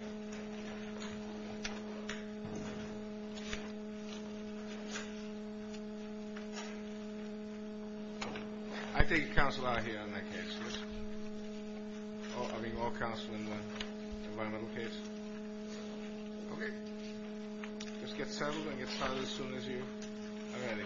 I take counsel out here on that case. I'll be more counsel in the environmental case. Okay. Let's get settled and get started as soon as you are ready.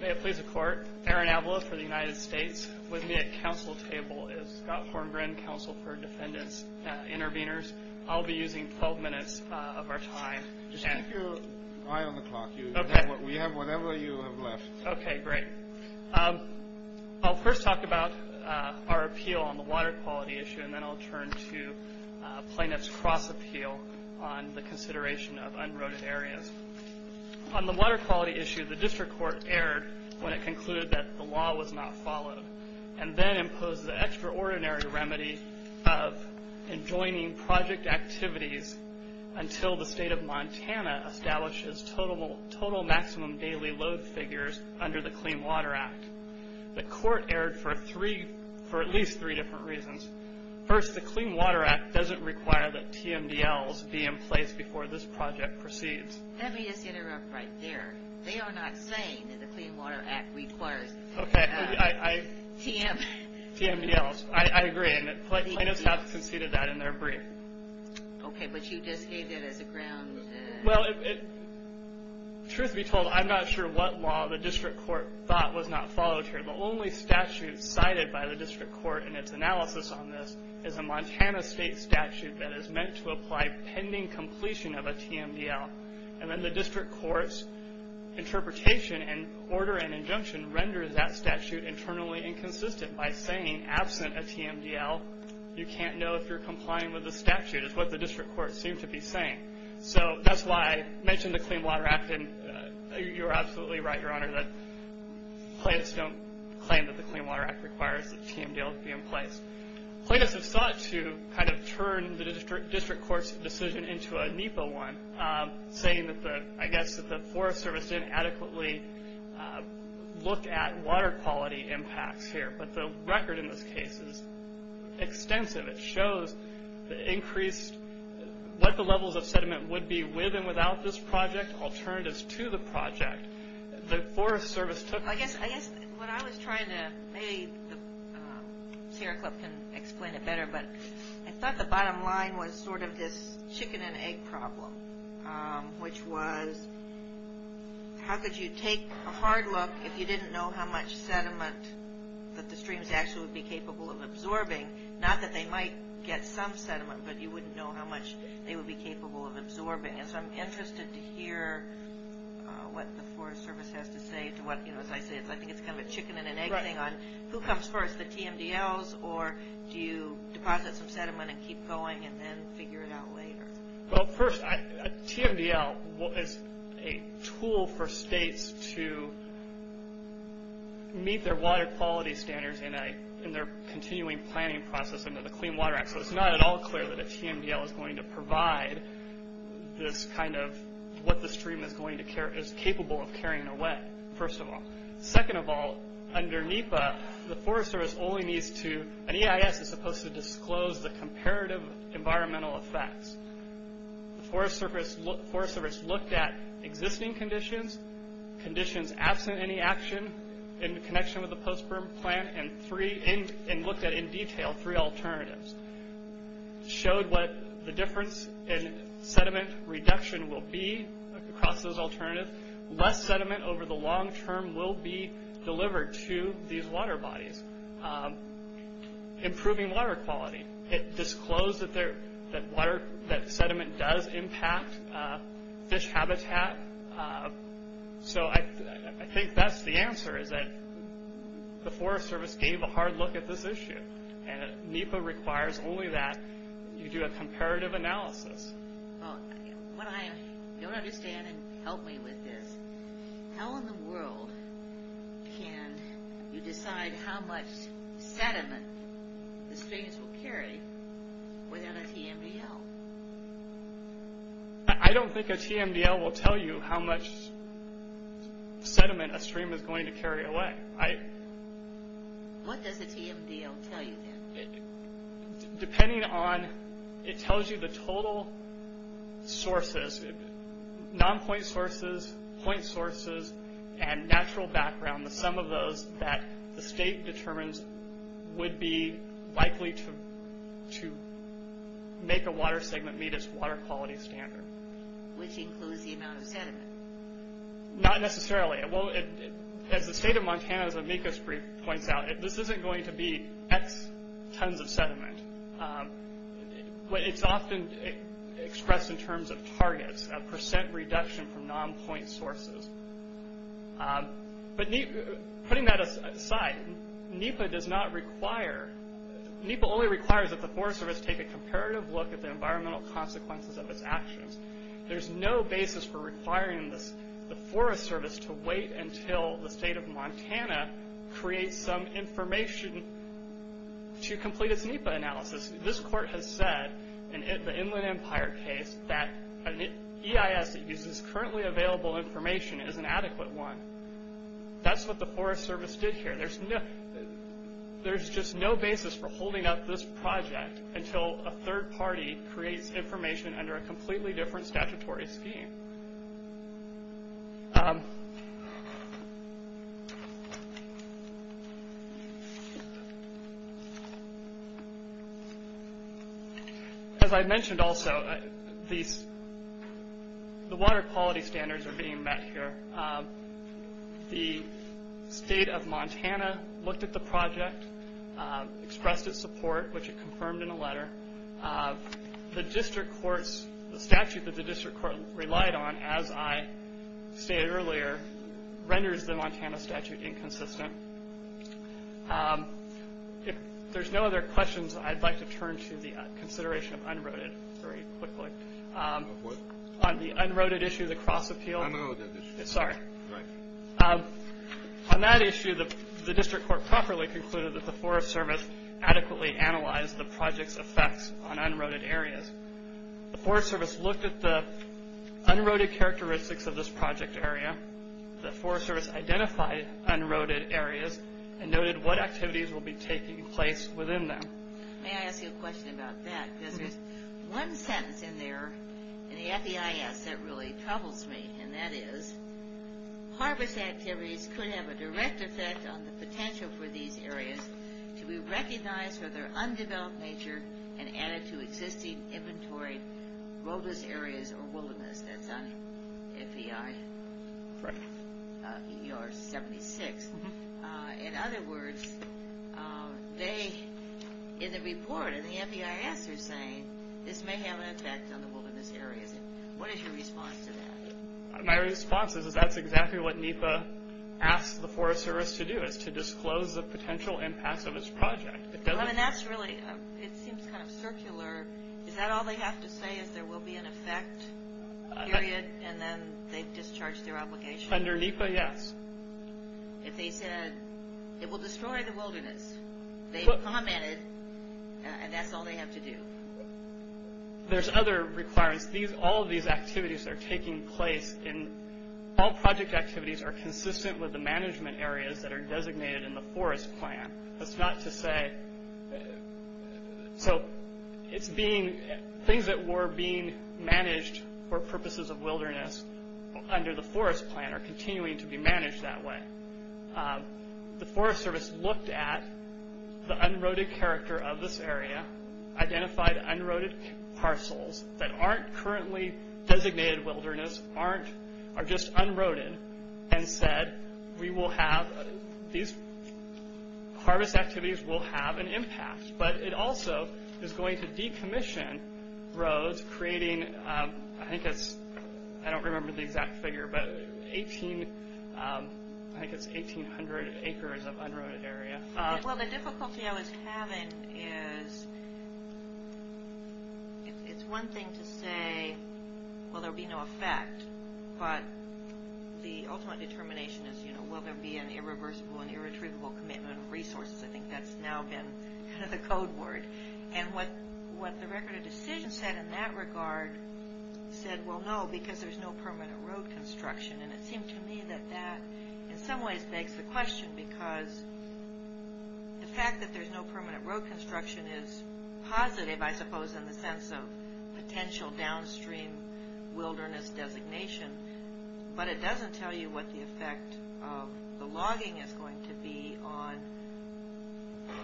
May it please the court. Aaron Avila for the United States. With me at counsel table is Scott Horngren, counsel for defendants, intervenors. I'll be using 12 minutes of our time. Just keep your eye on the clock. We have whatever you have left. Okay, great. I'll first talk about our appeal on the water quality issue and then I'll turn to plaintiff's cross appeal on the consideration of unroaded areas. On the water quality issue, the district court erred when it concluded that the law was not followed and then imposed the extraordinary remedy of enjoining project activities until the state of Montana establishes total maximum daily load figures under the Clean Water Act. The court erred for at least three different reasons. First, the Clean Water Act doesn't require that TMDLs be in place before this project proceeds. Let me just interrupt right there. They are not saying that the Clean Water Act requires... Okay, TMDLs. I agree and plaintiffs have conceded that in their brief. Okay, but you just gave that as a ground... Truth be told, I'm not sure what law the district court thought was not followed here. The only statute cited by the district court in its analysis on this is a Montana state statute that is meant to apply pending completion of a TMDL. And then the district court's interpretation and order and injunction renders that statute internally inconsistent by saying, absent a TMDL, you can't know if you're complying with the statute is what the district court seemed to be saying. So that's why I mentioned the Clean Water Act and you're absolutely right, Your Honor, that plaintiffs don't claim that the Clean Water Act requires that TMDLs be in place. Plaintiffs have sought to kind of turn the district court's decision into a NEPA one, saying that, I guess, that the Forest Service didn't adequately look at water quality impacts here. But the record in this case is extensive. It shows what the levels of sediment would be with and without this project, alternatives to the project. I guess what I was trying to, maybe Sarah Clip can explain it better, but I thought the bottom line was sort of this chicken and egg problem, which was how could you take a hard look if you didn't know how much sediment that the streams actually would be capable of absorbing, not that they might get some sediment, but you wouldn't know how much they would be capable of absorbing. And so I'm interested to hear what the Forest Service has to say to what, as I say, I think it's kind of a chicken and an egg thing on who comes first, the TMDLs, or do you deposit some sediment and keep going and then figure it out later? Well, first, a TMDL is a tool for states to meet their water quality standards in their continuing planning process under the Clean Water Act. So it's not at all clear that a TMDL is going to provide this kind of, what the stream is capable of carrying away, first of all. Second of all, under NEPA, the Forest Service only needs to, an EIS is supposed to disclose the comparative environmental effects. The Forest Service looked at existing conditions, conditions absent in the action, in connection with the post-burn plant, and looked at, in detail, three alternatives. Showed what the difference in sediment reduction will be across those alternatives. Less sediment over the long term will be delivered to these water bodies. Improving water quality. It disclosed that sediment does impact fish habitat. So I think that's the answer, is that the Forest Service gave a hard look at this issue, and NEPA requires only that you do a comparative analysis. Well, what I don't understand, and help me with this, how in the world can you decide how much sediment the streams will carry within a TMDL? I don't think a TMDL will tell you how much sediment a stream is going to carry away. What does a TMDL tell you, then? Depending on, it tells you the total sources, non-point sources, point sources, and natural background, the sum of those, that the state determines would be likely to make a water segment meet its water quality standard. Which includes the amount of sediment. Not necessarily. Well, as the state of Montana, as Amicus points out, this isn't going to be X tons of sediment. It's often expressed in terms of targets, a percent reduction from non-point sources. But putting that aside, NEPA does not require, NEPA only requires that the Forest Service take a comparative look at the environmental consequences of its actions. There's no basis for requiring the Forest Service to wait until the state of Montana creates some information to complete its NEPA analysis. This court has said, in the Inland Empire case, that an EIS that uses currently available information is an adequate one. That's what the Forest Service did here. There's just no basis for holding up this project until a third party creates information under a completely different statutory scheme. As I mentioned also, the water quality standards are being met here. The state of Montana looked at the project, expressed its support, which it confirmed in a letter. The statute that the district court relied on, as I stated earlier, renders the Montana statute inconsistent. If there's no other questions, I'd like to turn to the consideration of UNROADED very quickly. On the UNROADED issue, the cross-appeal. Sorry. On that issue, the district court properly concluded that the Forest Service adequately analyzed the project's effects on UNROADED areas. The Forest Service looked at the UNROADED characteristics of this project area. The Forest Service identified UNROADED areas and noted what activities will be taking place within them. May I ask you a question about that? There's one sentence in there, and at the EIS, that really troubles me, and that is, harvest activities could have a direct effect on the potential for these areas to be recognized for their undeveloped nature and added to existing inventory roadless areas or wilderness. That's on FEI 76. In other words, they, in the report, in the FEIS, are saying, this may have an effect on the wilderness areas. What is your response to that? My response is that's exactly what NEPA asked the Forest Service to do, is to disclose the potential impacts of its project. I mean, that's really, it seems kind of circular. Is that all they have to say, is there will be an effect, period, and then they discharge their obligation? Under NEPA, yes. If they said, it will destroy the wilderness, they commented, and that's all they have to do. There's other requirements. All of these activities are taking place in, all project activities are consistent with the management areas that are designated in the forest plan. That's not to say, so it's being, things that were being managed for purposes of wilderness under the forest plan are continuing to be managed that way. The Forest Service looked at the unroaded character of this area, identified unroaded parcels that aren't currently designated wilderness, aren't, are just unroaded, and said, we will have, these harvest activities will have an impact. But it also is going to decommission roads, creating, I think it's, I don't remember the exact figure, but 1,800 acres of unroaded area. Well, the difficulty I was having is, it's one thing to say, well, there'll be no effect, but the ultimate determination is, you know, will there be an irreversible and irretrievable commitment of resources? I think that's now been kind of the code word. And what the Record of Decision said in that regard said, well, no, because there's no permanent road construction. And it seemed to me that that, in some ways, begs the question, because the fact that there's no permanent road construction is positive, I suppose, in the sense of potential downstream wilderness designation. But it doesn't tell you what the effect of the logging is going to be on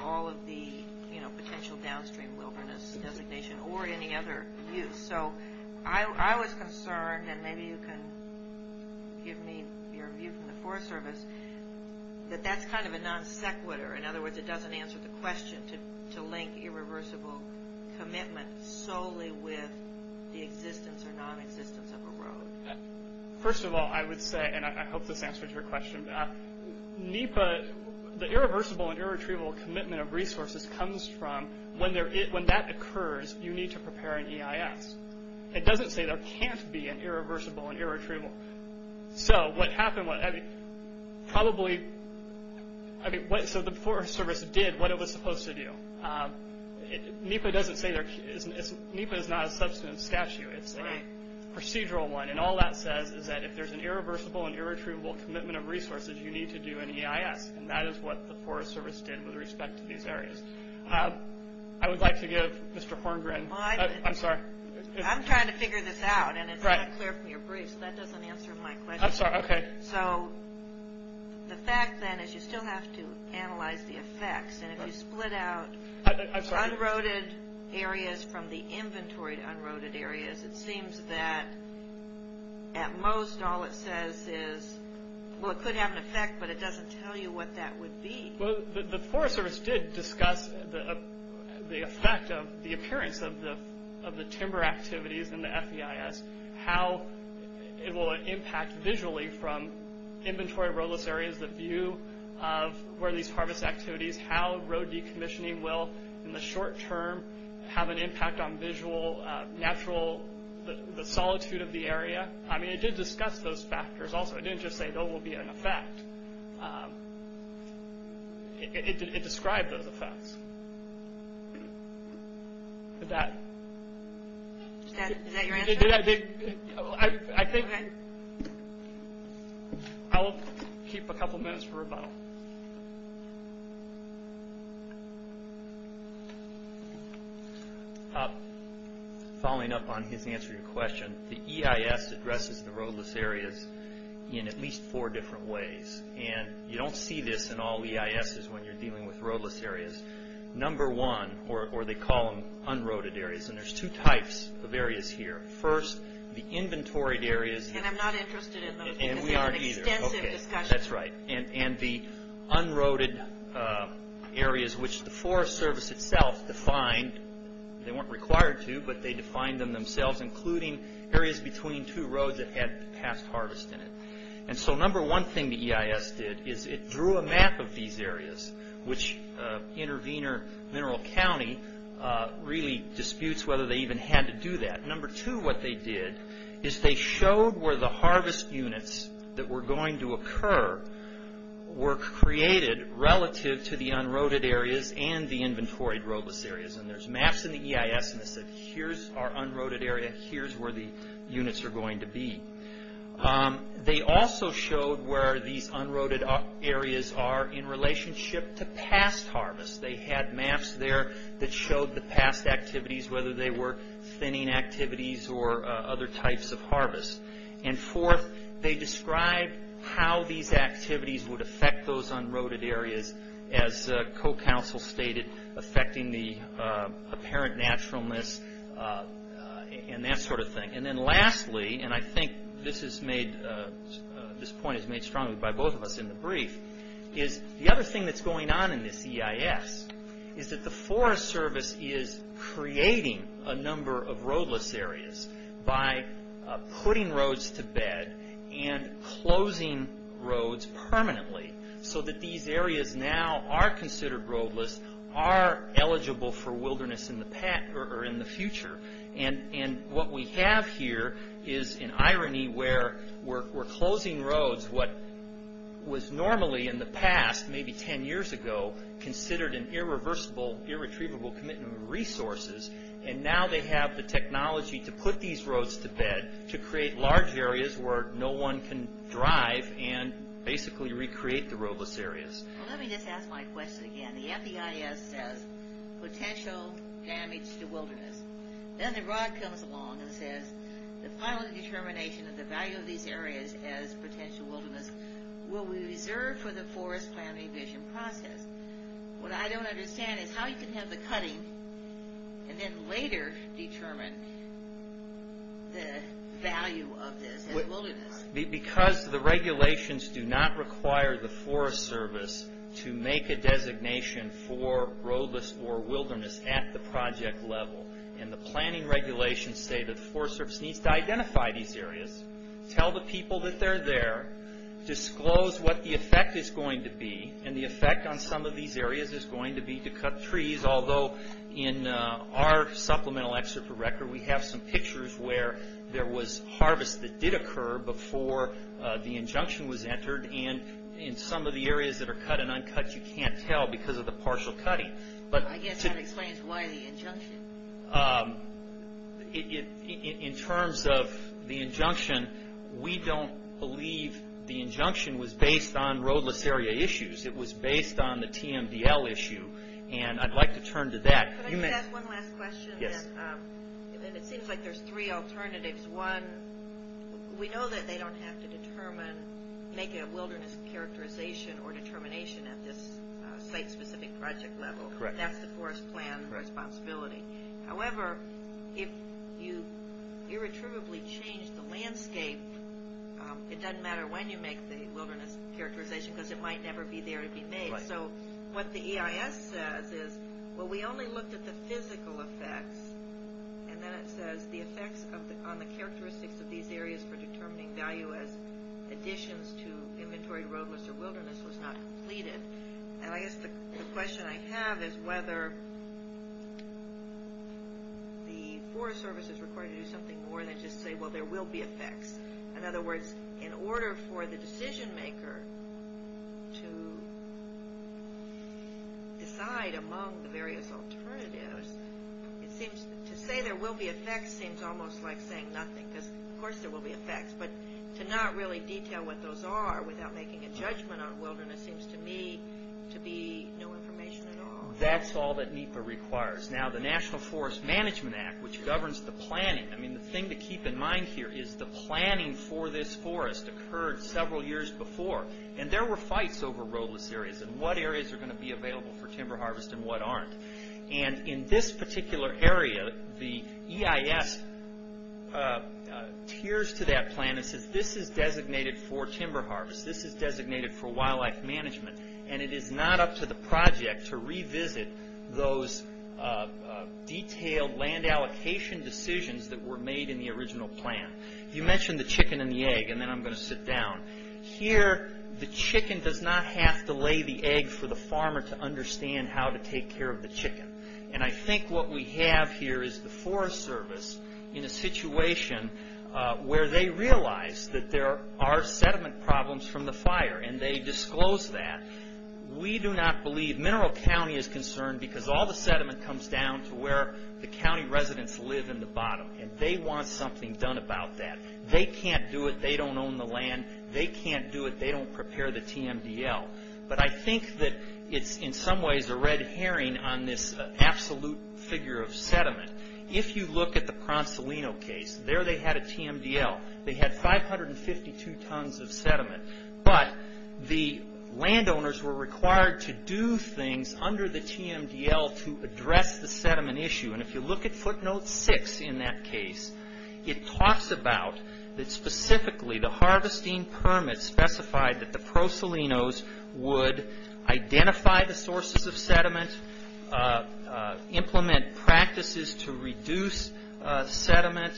all of the, you know, potential downstream wilderness designation, or any other use. So I was concerned, and maybe you can give me your view from the Forest Service, that that's kind of a non-sequitur. In other words, it doesn't answer the question to link irreversible commitment solely with the existence or non-existence of a road. First of all, I would say, and I hope this answers your question, NEPA, the irreversible and irretrievable commitment of resources comes from, when that occurs, you need to prepare an EIS. It doesn't say there can't be an irreversible and irretrievable. So what happened was, I mean, probably, I mean, so the Forest Service did what it was supposed to do. NEPA doesn't say, NEPA is not a substantive statute. It's a procedural one, and all that says is that if there's an irreversible and irretrievable commitment of resources, you need to do an EIS. And that is what the Forest Service did with respect to these areas. I would like to give Mr. Horngren. I'm sorry. I'm trying to figure this out, and it's not clear from your brief, so that doesn't answer my question. I'm sorry. Okay. So the fact, then, is you still have to analyze the effects, and if you split out unroaded areas from the inventory to unroaded areas, it seems that at most all it says is, well, it could have an effect, but it doesn't tell you what that would be. Well, the Forest Service did discuss the effect of, the appearance of the timber activities in the FEIS, how it will impact visually from inventory roadless areas, the view of where these harvest activities, how road decommissioning will in the short term have an impact on visual, natural, the solitude of the area. I mean, it did discuss those factors also. It didn't just say there will be an effect. It described those effects. Did that? Is that your answer? I think I'll keep a couple minutes for rebuttal. Following up on his answer to your question, the EIS addresses the roadless areas in at least four different ways, and you don't see this in all EISs when you're dealing with roadless areas. Number one, or they call them unroaded areas, and there's two types of areas here. First, the inventoried areas. And I'm not interested in those because they have extensive discussion. Okay, that's right. And the unroaded areas, which the Forest Service itself defined. They weren't required to, but they defined them themselves, including areas between two roads that had past harvest in it. And so number one thing the EIS did is it drew a map of these areas, which Intervenor Mineral County really disputes whether they even had to do that. Number two, what they did is they showed where the harvest units that were going to occur were created relative to the unroaded areas and the inventoried roadless areas. And there's maps in the EIS, and it said, here's our unroaded area, here's where the units are going to be. They also showed where these unroaded areas are in relationship to past harvest. They had maps there that showed the past activities, whether they were thinning activities or other types of harvest. And fourth, they described how these activities would affect those unroaded areas, as co-counsel stated, affecting the apparent naturalness and that sort of thing. And then lastly, and I think this point is made strongly by both of us in the brief, is the other thing that's going on in this EIS is that the Forest Service is creating a number of roadless areas by putting roads to bed and closing roads permanently so that these areas now are considered roadless, are eligible for wilderness in the future. And what we have here is an irony where we're closing roads, what was normally in the past, maybe 10 years ago, considered an irreversible, irretrievable commitment of resources, and now they have the technology to put these roads to bed to create large areas where no one can drive and basically recreate the roadless areas. Well, let me just ask my question again. The FDIS says potential damage to wilderness. Then the ROD comes along and says the final determination of the value of these areas as potential wilderness will be reserved for the forest planning vision process. What I don't understand is how you can have the cutting and then later determine the value of this as wilderness. Because the regulations do not require the Forest Service to make a designation for roadless or wilderness at the project level, and the planning regulations say that the Forest Service needs to identify these areas, tell the people that they're there, disclose what the effect is going to be, and the effect on some of these areas is going to be to cut trees, although in our supplemental excerpt for record we have some pictures where there was harvest that did occur before the injunction was entered, and in some of the areas that are cut and uncut you can't tell because of the partial cutting. I guess that explains why the injunction. In terms of the injunction, we don't believe the injunction was based on roadless area issues. It was based on the TMDL issue. I'd like to turn to that. Can I just ask one last question? Yes. It seems like there's three alternatives. One, we know that they don't have to make a wilderness characterization or determination at this site-specific project level. Correct. That's the forest plan responsibility. However, if you irretrievably change the landscape, it doesn't matter when you make the wilderness characterization because it might never be there to be made. Right. What the EIS says is, well, we only looked at the physical effects, and then it says the effects on the characteristics of these areas for determining value as additions to inventory roadless or wilderness was not completed. I guess the question I have is whether the Forest Service is required to do something more than just say, well, there will be effects. In other words, in order for the decision maker to decide among the various alternatives, to say there will be effects seems almost like saying nothing because, of course, there will be effects, but to not really detail what those are without making a judgment on wilderness seems to me to be no information at all. That's all that NEPA requires. Now, the National Forest Management Act, which governs the planning, the thing to keep in mind here is the planning for this forest occurred several years before, and there were fights over roadless areas and what areas are going to be available for timber harvest and what aren't. In this particular area, the EIS tears to that plan and says, this is designated for timber harvest. This is designated for wildlife management, and it is not up to the project to revisit those detailed land allocation decisions that were made in the original plan. You mentioned the chicken and the egg, and then I'm going to sit down. Here, the chicken does not have to lay the egg for the farmer to understand how to take care of the chicken, and I think what we have here is the Forest Service in a situation where they realize that there are sediment problems from the fire, and they disclose that. We do not believe, Mineral County is concerned, because all the sediment comes down to where the county residents live in the bottom, and they want something done about that. They can't do it. They don't own the land. They can't do it. They don't prepare the TMDL, but I think that it's in some ways a red herring on this absolute figure of sediment. If you look at the Pronsolino case, there they had a TMDL. They had 552 tons of sediment, but the landowners were required to do things under the TMDL to address the sediment issue, and if you look at footnote 6 in that case, it talks about that specifically the harvesting permit specified that the Pronsolinos would identify the sources of sediment, implement practices to reduce sediment,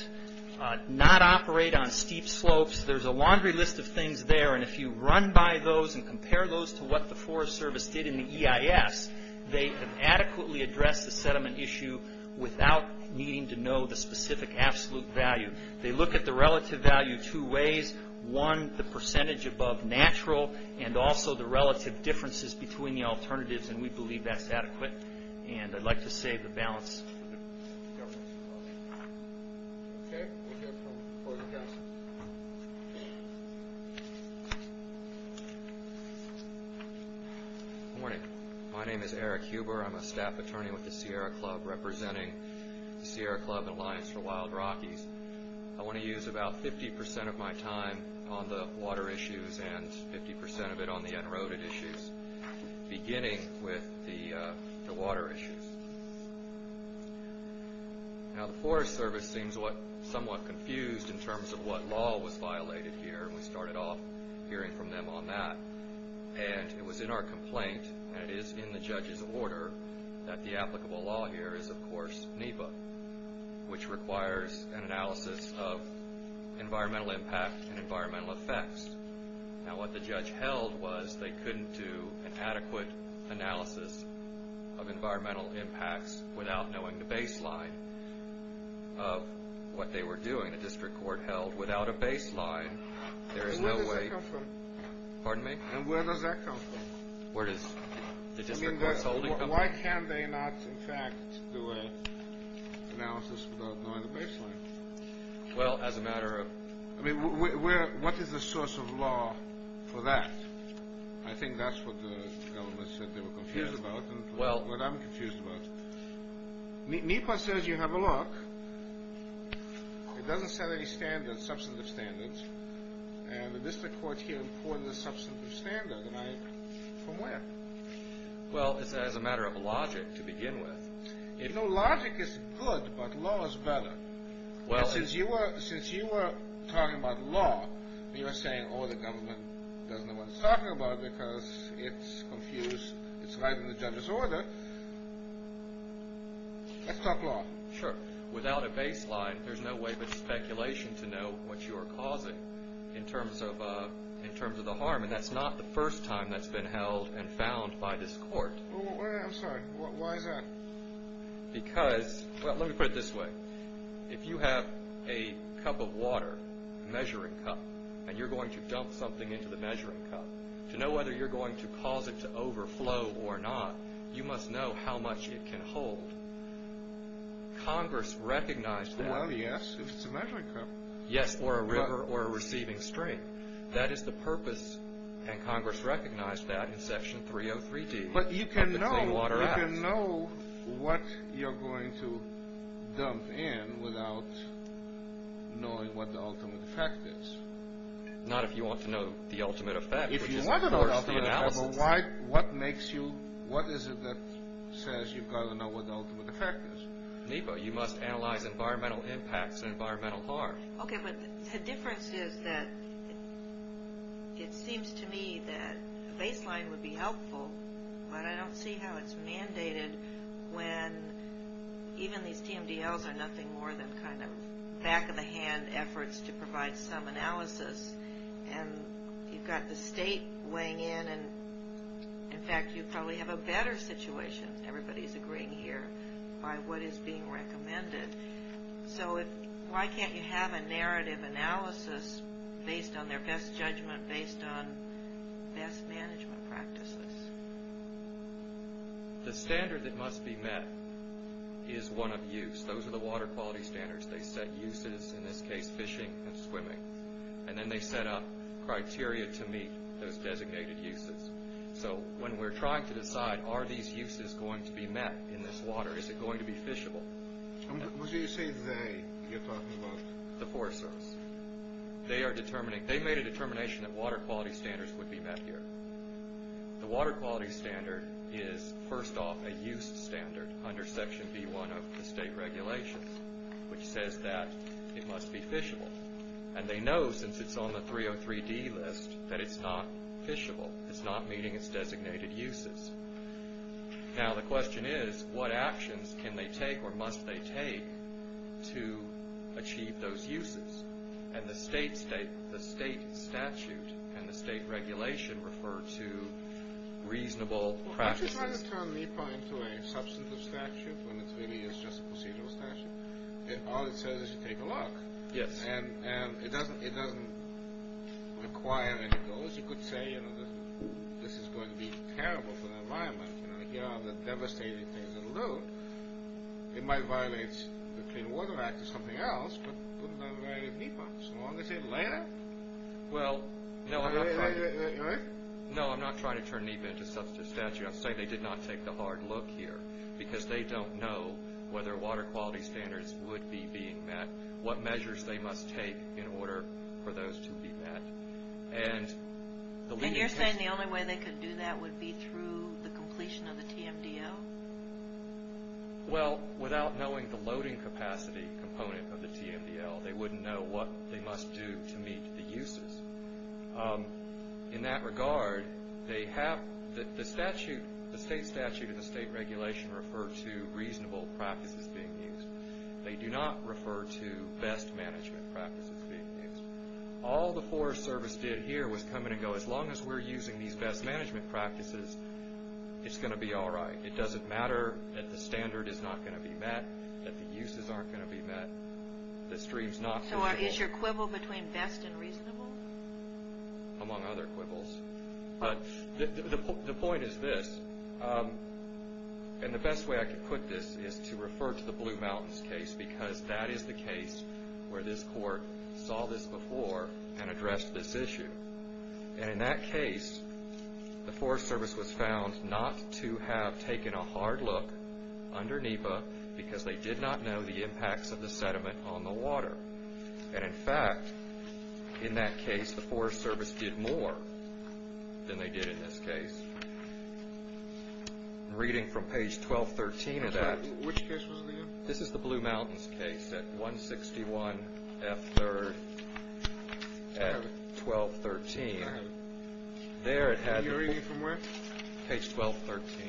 not operate on steep slopes. There's a laundry list of things there, and if you run by those and compare those to what the Forest Service did in the EIS, they have adequately addressed the sediment issue without needing to know the specific absolute value. They look at the relative value two ways. One, the percentage above natural, and also the relative differences between the alternatives, and we believe that's adequate, and I'd like to save the balance. Okay, we'll hear from the board of council. Good morning. My name is Eric Huber. I'm a staff attorney with the Sierra Club representing the Sierra Club and Alliance for Wild Rockies. I want to use about 50% of my time on the water issues and 50% of it on the unroaded issues, beginning with the water issues. Now, the Forest Service seems somewhat confused in terms of what law was violated here, and we started off hearing from them on that, and it was in our complaint, and it is in the judge's order, that the applicable law here is, of course, NEPA, which requires an analysis of environmental impact and environmental effects. Now, what the judge held was they couldn't do an adequate analysis of environmental impacts without knowing the baseline of what they were doing. The district court held without a baseline, there is no way. And where does that come from? Pardon me? And where does that come from? Where does the district court's holding come from? I mean, why can't they not, in fact, do an analysis without knowing the baseline? Well, as a matter of... I mean, what is the source of law for that? I think that's what the government said they were confused about, and what I'm confused about. NEPA says, you have a look. It doesn't set any substantive standards, and the district court here imported a substantive standard, and I, from where? Well, as a matter of logic, to begin with. You know, logic is good, but law is better. Since you were talking about law, and you were saying, oh, the government doesn't know what it's talking about because it's confused, it's violating the judge's order, let's talk law. Sure. Without a baseline, there's no way but speculation to know what you are causing in terms of the harm, and that's not the first time that's been held and found by this court. I'm sorry, why is that? Because, well, let me put it this way. If you have a cup of water, a measuring cup, and you're going to dump something into the measuring cup, to know whether you're going to cause it to overflow or not, you must know how much it can hold. Congress recognized that. Well, yes, if it's a measuring cup. Yes, or a river or a receiving stream. That is the purpose, and Congress recognized that in Section 303D. But you can know what you're going to dump in without knowing what the ultimate effect is. Not if you want to know the ultimate effect. If you want to know the ultimate effect, but what is it that says you've got to know what the ultimate effect is? NEPA, you must analyze environmental impacts and environmental harm. Okay, but the difference is that it seems to me that a baseline would be helpful, but I don't see how it's mandated when even these TMDLs are nothing more than kind of back-of-the-hand efforts to provide some analysis. And you've got the state weighing in, and, in fact, you probably have a better situation. Everybody's agreeing here by what is being recommended. So why can't you have a narrative analysis based on their best judgment, based on best management practices? The standard that must be met is one of use. Those are the water quality standards. They set uses, in this case fishing and swimming. And then they set up criteria to meet those designated uses. So when we're trying to decide, are these uses going to be met in this water? Is it going to be fishable? What do you say they, you're talking about? The forest service. They made a determination that water quality standards would be met here. The water quality standard is, first off, a use standard under Section B-1 of the state regulations, which says that it must be fishable. And they know, since it's on the 303D list, that it's not fishable. It's not meeting its designated uses. Now the question is, what actions can they take or must they take to achieve those uses? And the state statute and the state regulation refer to reasonable practices. Why don't you try to turn NEPA into a substantive statute when it really is just a procedural statute? All it says is you take a look. Yes. And it doesn't require any goals. Yes, you could say, you know, this is going to be terrible for the environment. You know, here are the devastating things that'll do. It might violate the Clean Water Act or something else, but it wouldn't have violated NEPA. So why don't they say it later? Well, no, I'm not trying to turn NEPA into a substantive statute. I'm saying they did not take the hard look here because they don't know whether water quality standards would be being met, what measures they must take in order for those to be met. And you're saying the only way they could do that would be through the completion of the TMDL? Well, without knowing the loading capacity component of the TMDL, they wouldn't know what they must do to meet the uses. In that regard, the state statute and the state regulation refer to reasonable practices being used. They do not refer to best management practices being used. All the Forest Service did here was come in and go, as long as we're using these best management practices, it's going to be all right. It doesn't matter that the standard is not going to be met, that the uses aren't going to be met, the stream's not feasible. So is your quibble between best and reasonable? Among other quibbles. But the point is this, and the best way I could put this is to refer to the Blue Mountains case because that is the case where this court saw this before and addressed this issue. And in that case, the Forest Service was found not to have taken a hard look under NEPA because they did not know the impacts of the sediment on the water. And in fact, in that case, the Forest Service did more than they did in this case. Reading from page 1213 of that... Which case was it again? This is the Blue Mountains case at 161F3rd at 1213. All right. There it had... Are you reading from where? Page 1213.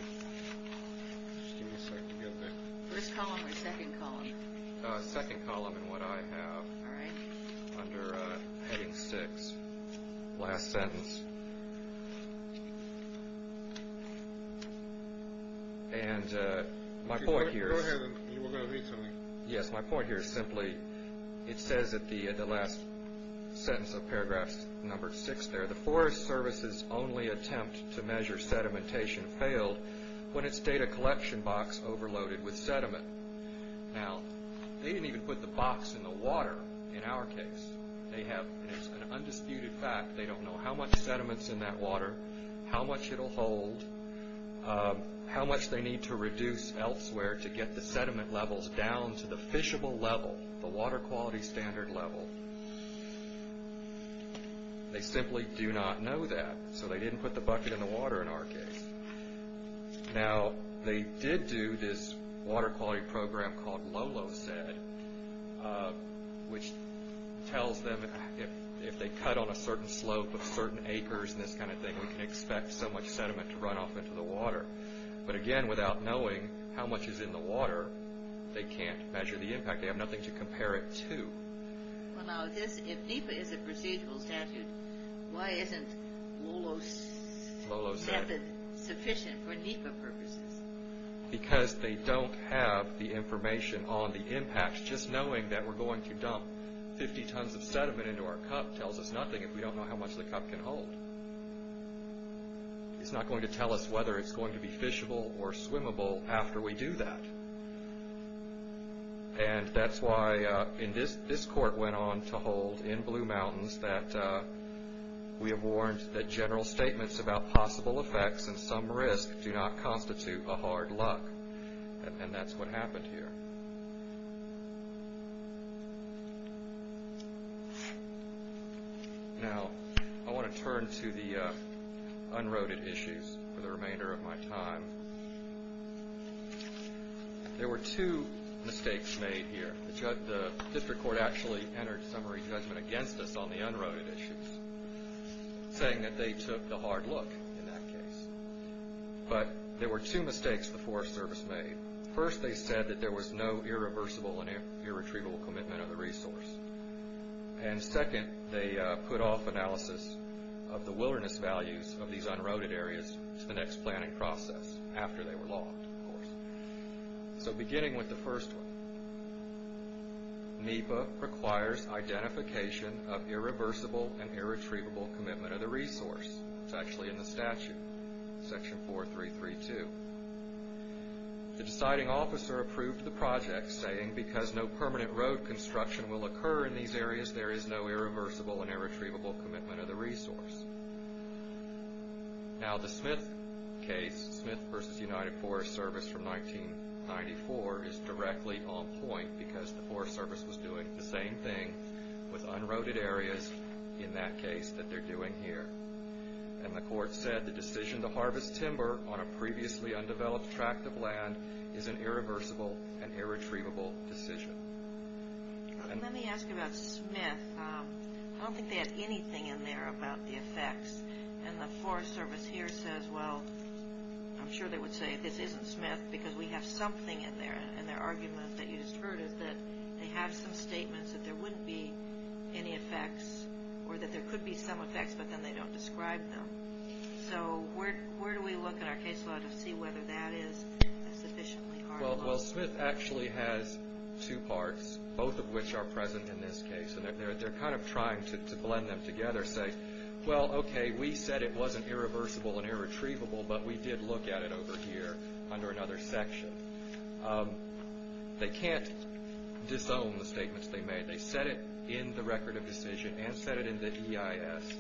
Just give me a second to get that. First column or second column? Second column in what I have. All right. Under heading six. Last sentence. And my point here is... Yes, my point here is simply, it says at the last sentence of paragraph number six there, the Forest Service's only attempt to measure sedimentation failed when its data collection box overloaded with sediment. Now, they didn't even put the box in the water in our case. They have, and it's an undisputed fact, they don't know how much sediment's in that water, how much it'll hold, how much they need to reduce elsewhere to get the sediment levels down to the fishable level, the water quality standard level. They simply do not know that, so they didn't put the bucket in the water in our case. Now, they did do this water quality program called LoloSed, which tells them if they cut on a certain slope of certain acres and this kind of thing, we can expect so much sediment to run off into the water. But again, without knowing how much is in the water, they can't measure the impact. They have nothing to compare it to. Well, now, if NEPA is a procedural statute, why isn't LoloSed sufficient for NEPA purposes? Because they don't have the information on the impact. Just knowing that we're going to dump 50 tons of sediment into our cup tells us nothing if we don't know how much the cup can hold. It's not going to tell us whether it's going to be fishable or swimmable after we do that. And that's why this court went on to hold in Blue Mountains that we have warned that general statements about possible effects and some risk do not constitute a hard luck. And that's what happened here. Now, I want to turn to the unroded issues for the remainder of my time. There were two mistakes made here. The district court actually entered summary judgment against us on the unroded issues, saying that they took the hard look in that case. But there were two mistakes the Forest Service made. First, they said that there was no irreversible and irretrievable commitment of the resource. And second, they put off analysis of the wilderness values of these unroded areas to the next planning process, after they were logged, of course. So, beginning with the first one, NEPA requires identification of irreversible and irretrievable commitment of the resource. It's actually in the statute, section 4332. The deciding officer approved the project, saying, because no permanent road construction will occur in these areas, there is no irreversible and irretrievable commitment of the resource. Now, the Smith case, Smith v. United Forest Service from 1994, is directly on point, because the Forest Service was doing the same thing with unroded areas in that case that they're doing here. And the court said, the decision to harvest timber on a previously undeveloped tract of land is an irreversible and irretrievable decision. Let me ask you about Smith. I don't think they had anything in there about the effects. And the Forest Service here says, well, I'm sure they would say this isn't Smith, because we have something in there. And their argument that you just heard is that they have some statements that there wouldn't be any effects, or that there could be some effects, but then they don't describe them. So, where do we look in our case law to see whether that is? Well, Smith actually has two parts, both of which are present in this case. And they're kind of trying to blend them together, say, well, okay, we said it wasn't irreversible and irretrievable, but we did look at it over here under another section. They can't disown the statements they made. They said it in the record of decision, and said it in the EIS,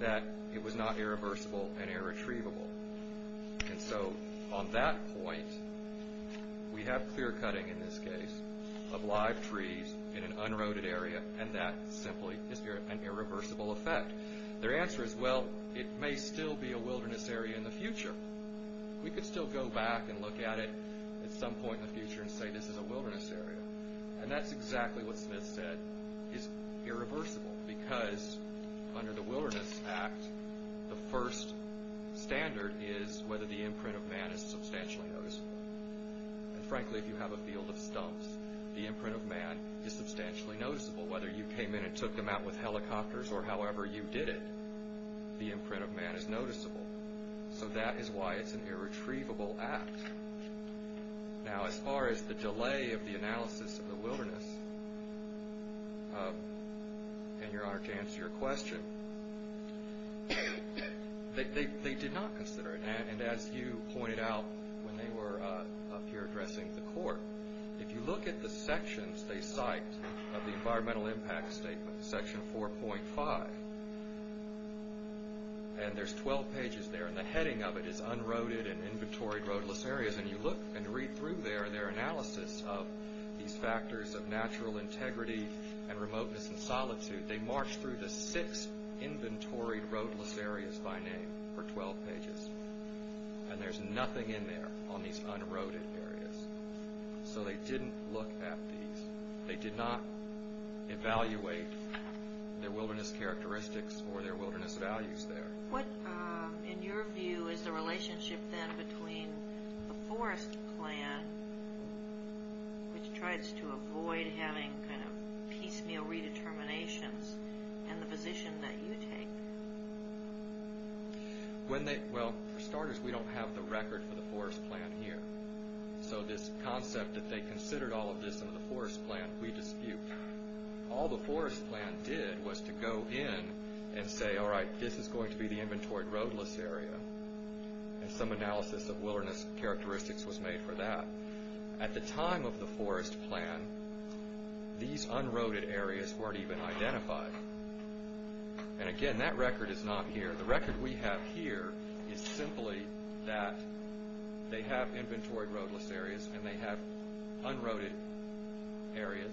that it was not irreversible and irretrievable. And so, on that point, we have clear-cutting in this case of live trees in an unroaded area, and that simply is an irreversible effect. Their answer is, well, it may still be a wilderness area in the future. We could still go back and look at it at some point in the future and say this is a wilderness area. And that's exactly what Smith said is irreversible, because under the Wilderness Act, the first standard is whether the imprint of man is substantially noticeable. And frankly, if you have a field of stumps, the imprint of man is substantially noticeable. Whether you came in and took them out with helicopters or however you did it, the imprint of man is noticeable. So that is why it's an irretrievable act. Now, as far as the delay of the analysis of the wilderness, and your Honor to answer your question, they did not consider it. And as you pointed out when they were up here addressing the Court, if you look at the sections they cite of the Environmental Impact Statement, section 4.5, and there's 12 pages there, and the heading of it is Unroaded and Inventoried Roadless Areas, and you look and read through there, their analysis of these factors of natural integrity and remoteness and solitude, they march through the six Inventoried Roadless Areas by name for 12 pages. And there's nothing in there on these unroaded areas. So they didn't look at these. They did not evaluate their wilderness characteristics or their wilderness values there. What, in your view, is the relationship then between the Forest Plan, which tries to avoid having these kind of piecemeal redeterminations, and the position that you take? Well, for starters, we don't have the record for the Forest Plan here. So this concept that they considered all of this in the Forest Plan, we dispute. All the Forest Plan did was to go in and say, all right, this is going to be the Inventoried Roadless Area. And some analysis of wilderness characteristics was made for that. At the time of the Forest Plan, these unroaded areas weren't even identified. And again, that record is not here. The record we have here is simply that they have Inventoried Roadless Areas and they have unroaded areas,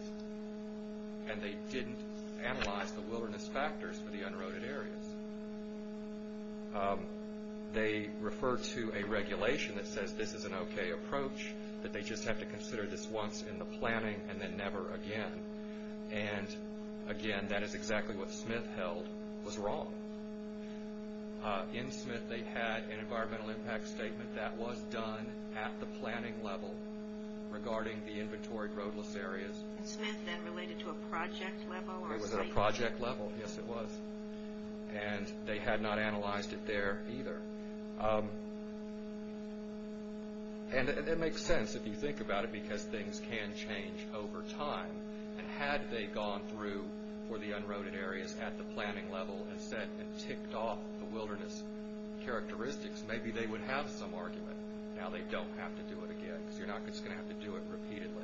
and they didn't analyze the wilderness factors for the unroaded areas. They refer to a regulation that says this is an okay approach, that they just have to consider this once in the planning and then never again. And again, that is exactly what Smith held was wrong. In Smith, they had an Environmental Impact Statement that was done at the planning level regarding the Inventoried Roadless Areas. And Smith then related to a project level? It was at a project level, yes it was. And they had not analyzed it there either. And it makes sense if you think about it because things can change over time. And had they gone through for the unroaded areas at the planning level and set and ticked off the wilderness characteristics, maybe they would have some argument. Now they don't have to do it again because you're not just going to have to do it repeatedly.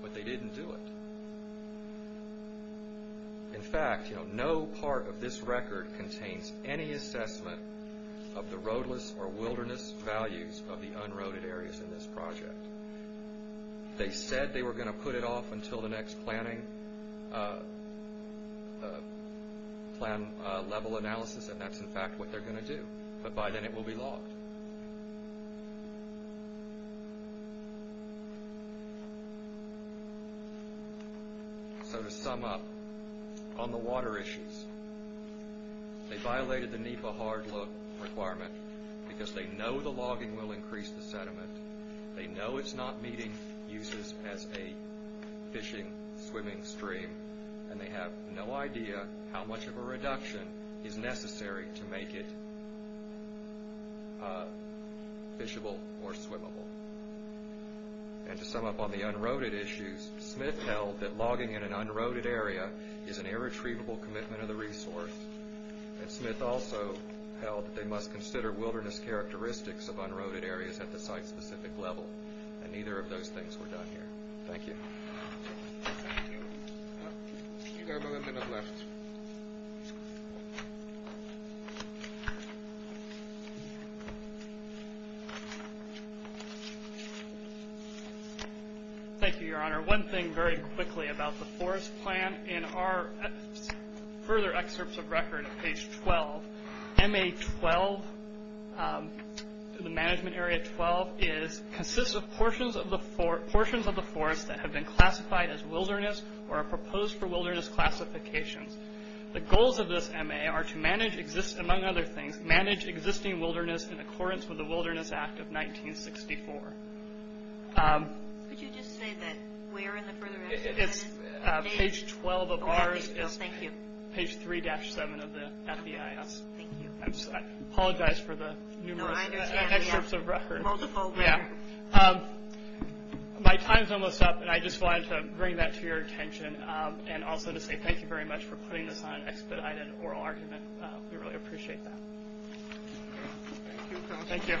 But they didn't do it. In fact, no part of this record contains any assessment of the roadless or wilderness values of the unroaded areas in this project. They said they were going to put it off until the next planning level analysis and that's in fact what they're going to do. But by then it will be logged. So to sum up, on the water issues, they violated the NEPA hard look requirement because they know the logging will increase the sediment. They know it's not meeting users as a fishing, swimming stream and they have no idea how much of a reduction is necessary to make it fishable or swimmable. And to sum up on the unroaded issues, Smith held that logging in an unroaded area is an irretrievable commitment of the resource. And Smith also held that they must consider wilderness characteristics of unroaded areas at the site-specific level. And neither of those things were done here. Thank you. Thank you, Your Honor. One thing very quickly about the forest plan. In our further excerpts of record on page 12, MA-12, the management area 12, consists of portions of the forest that have been classified as wilderness or are proposed for wilderness classifications. The goals of this MA are to manage, among other things, manage existing wilderness in accordance with the Wilderness Act of 1964. Could you just say that where in the further excerpts? It's page 12 of ours. Okay, thank you. Page 3-7 of the FBIS. Thank you. I apologize for the numerous excerpts of record. Multiple. Yeah. My time's almost up, and I just wanted to bring that to your attention and also to say thank you very much for putting this on expedited oral argument. We really appreciate that. Thank you. Thank you.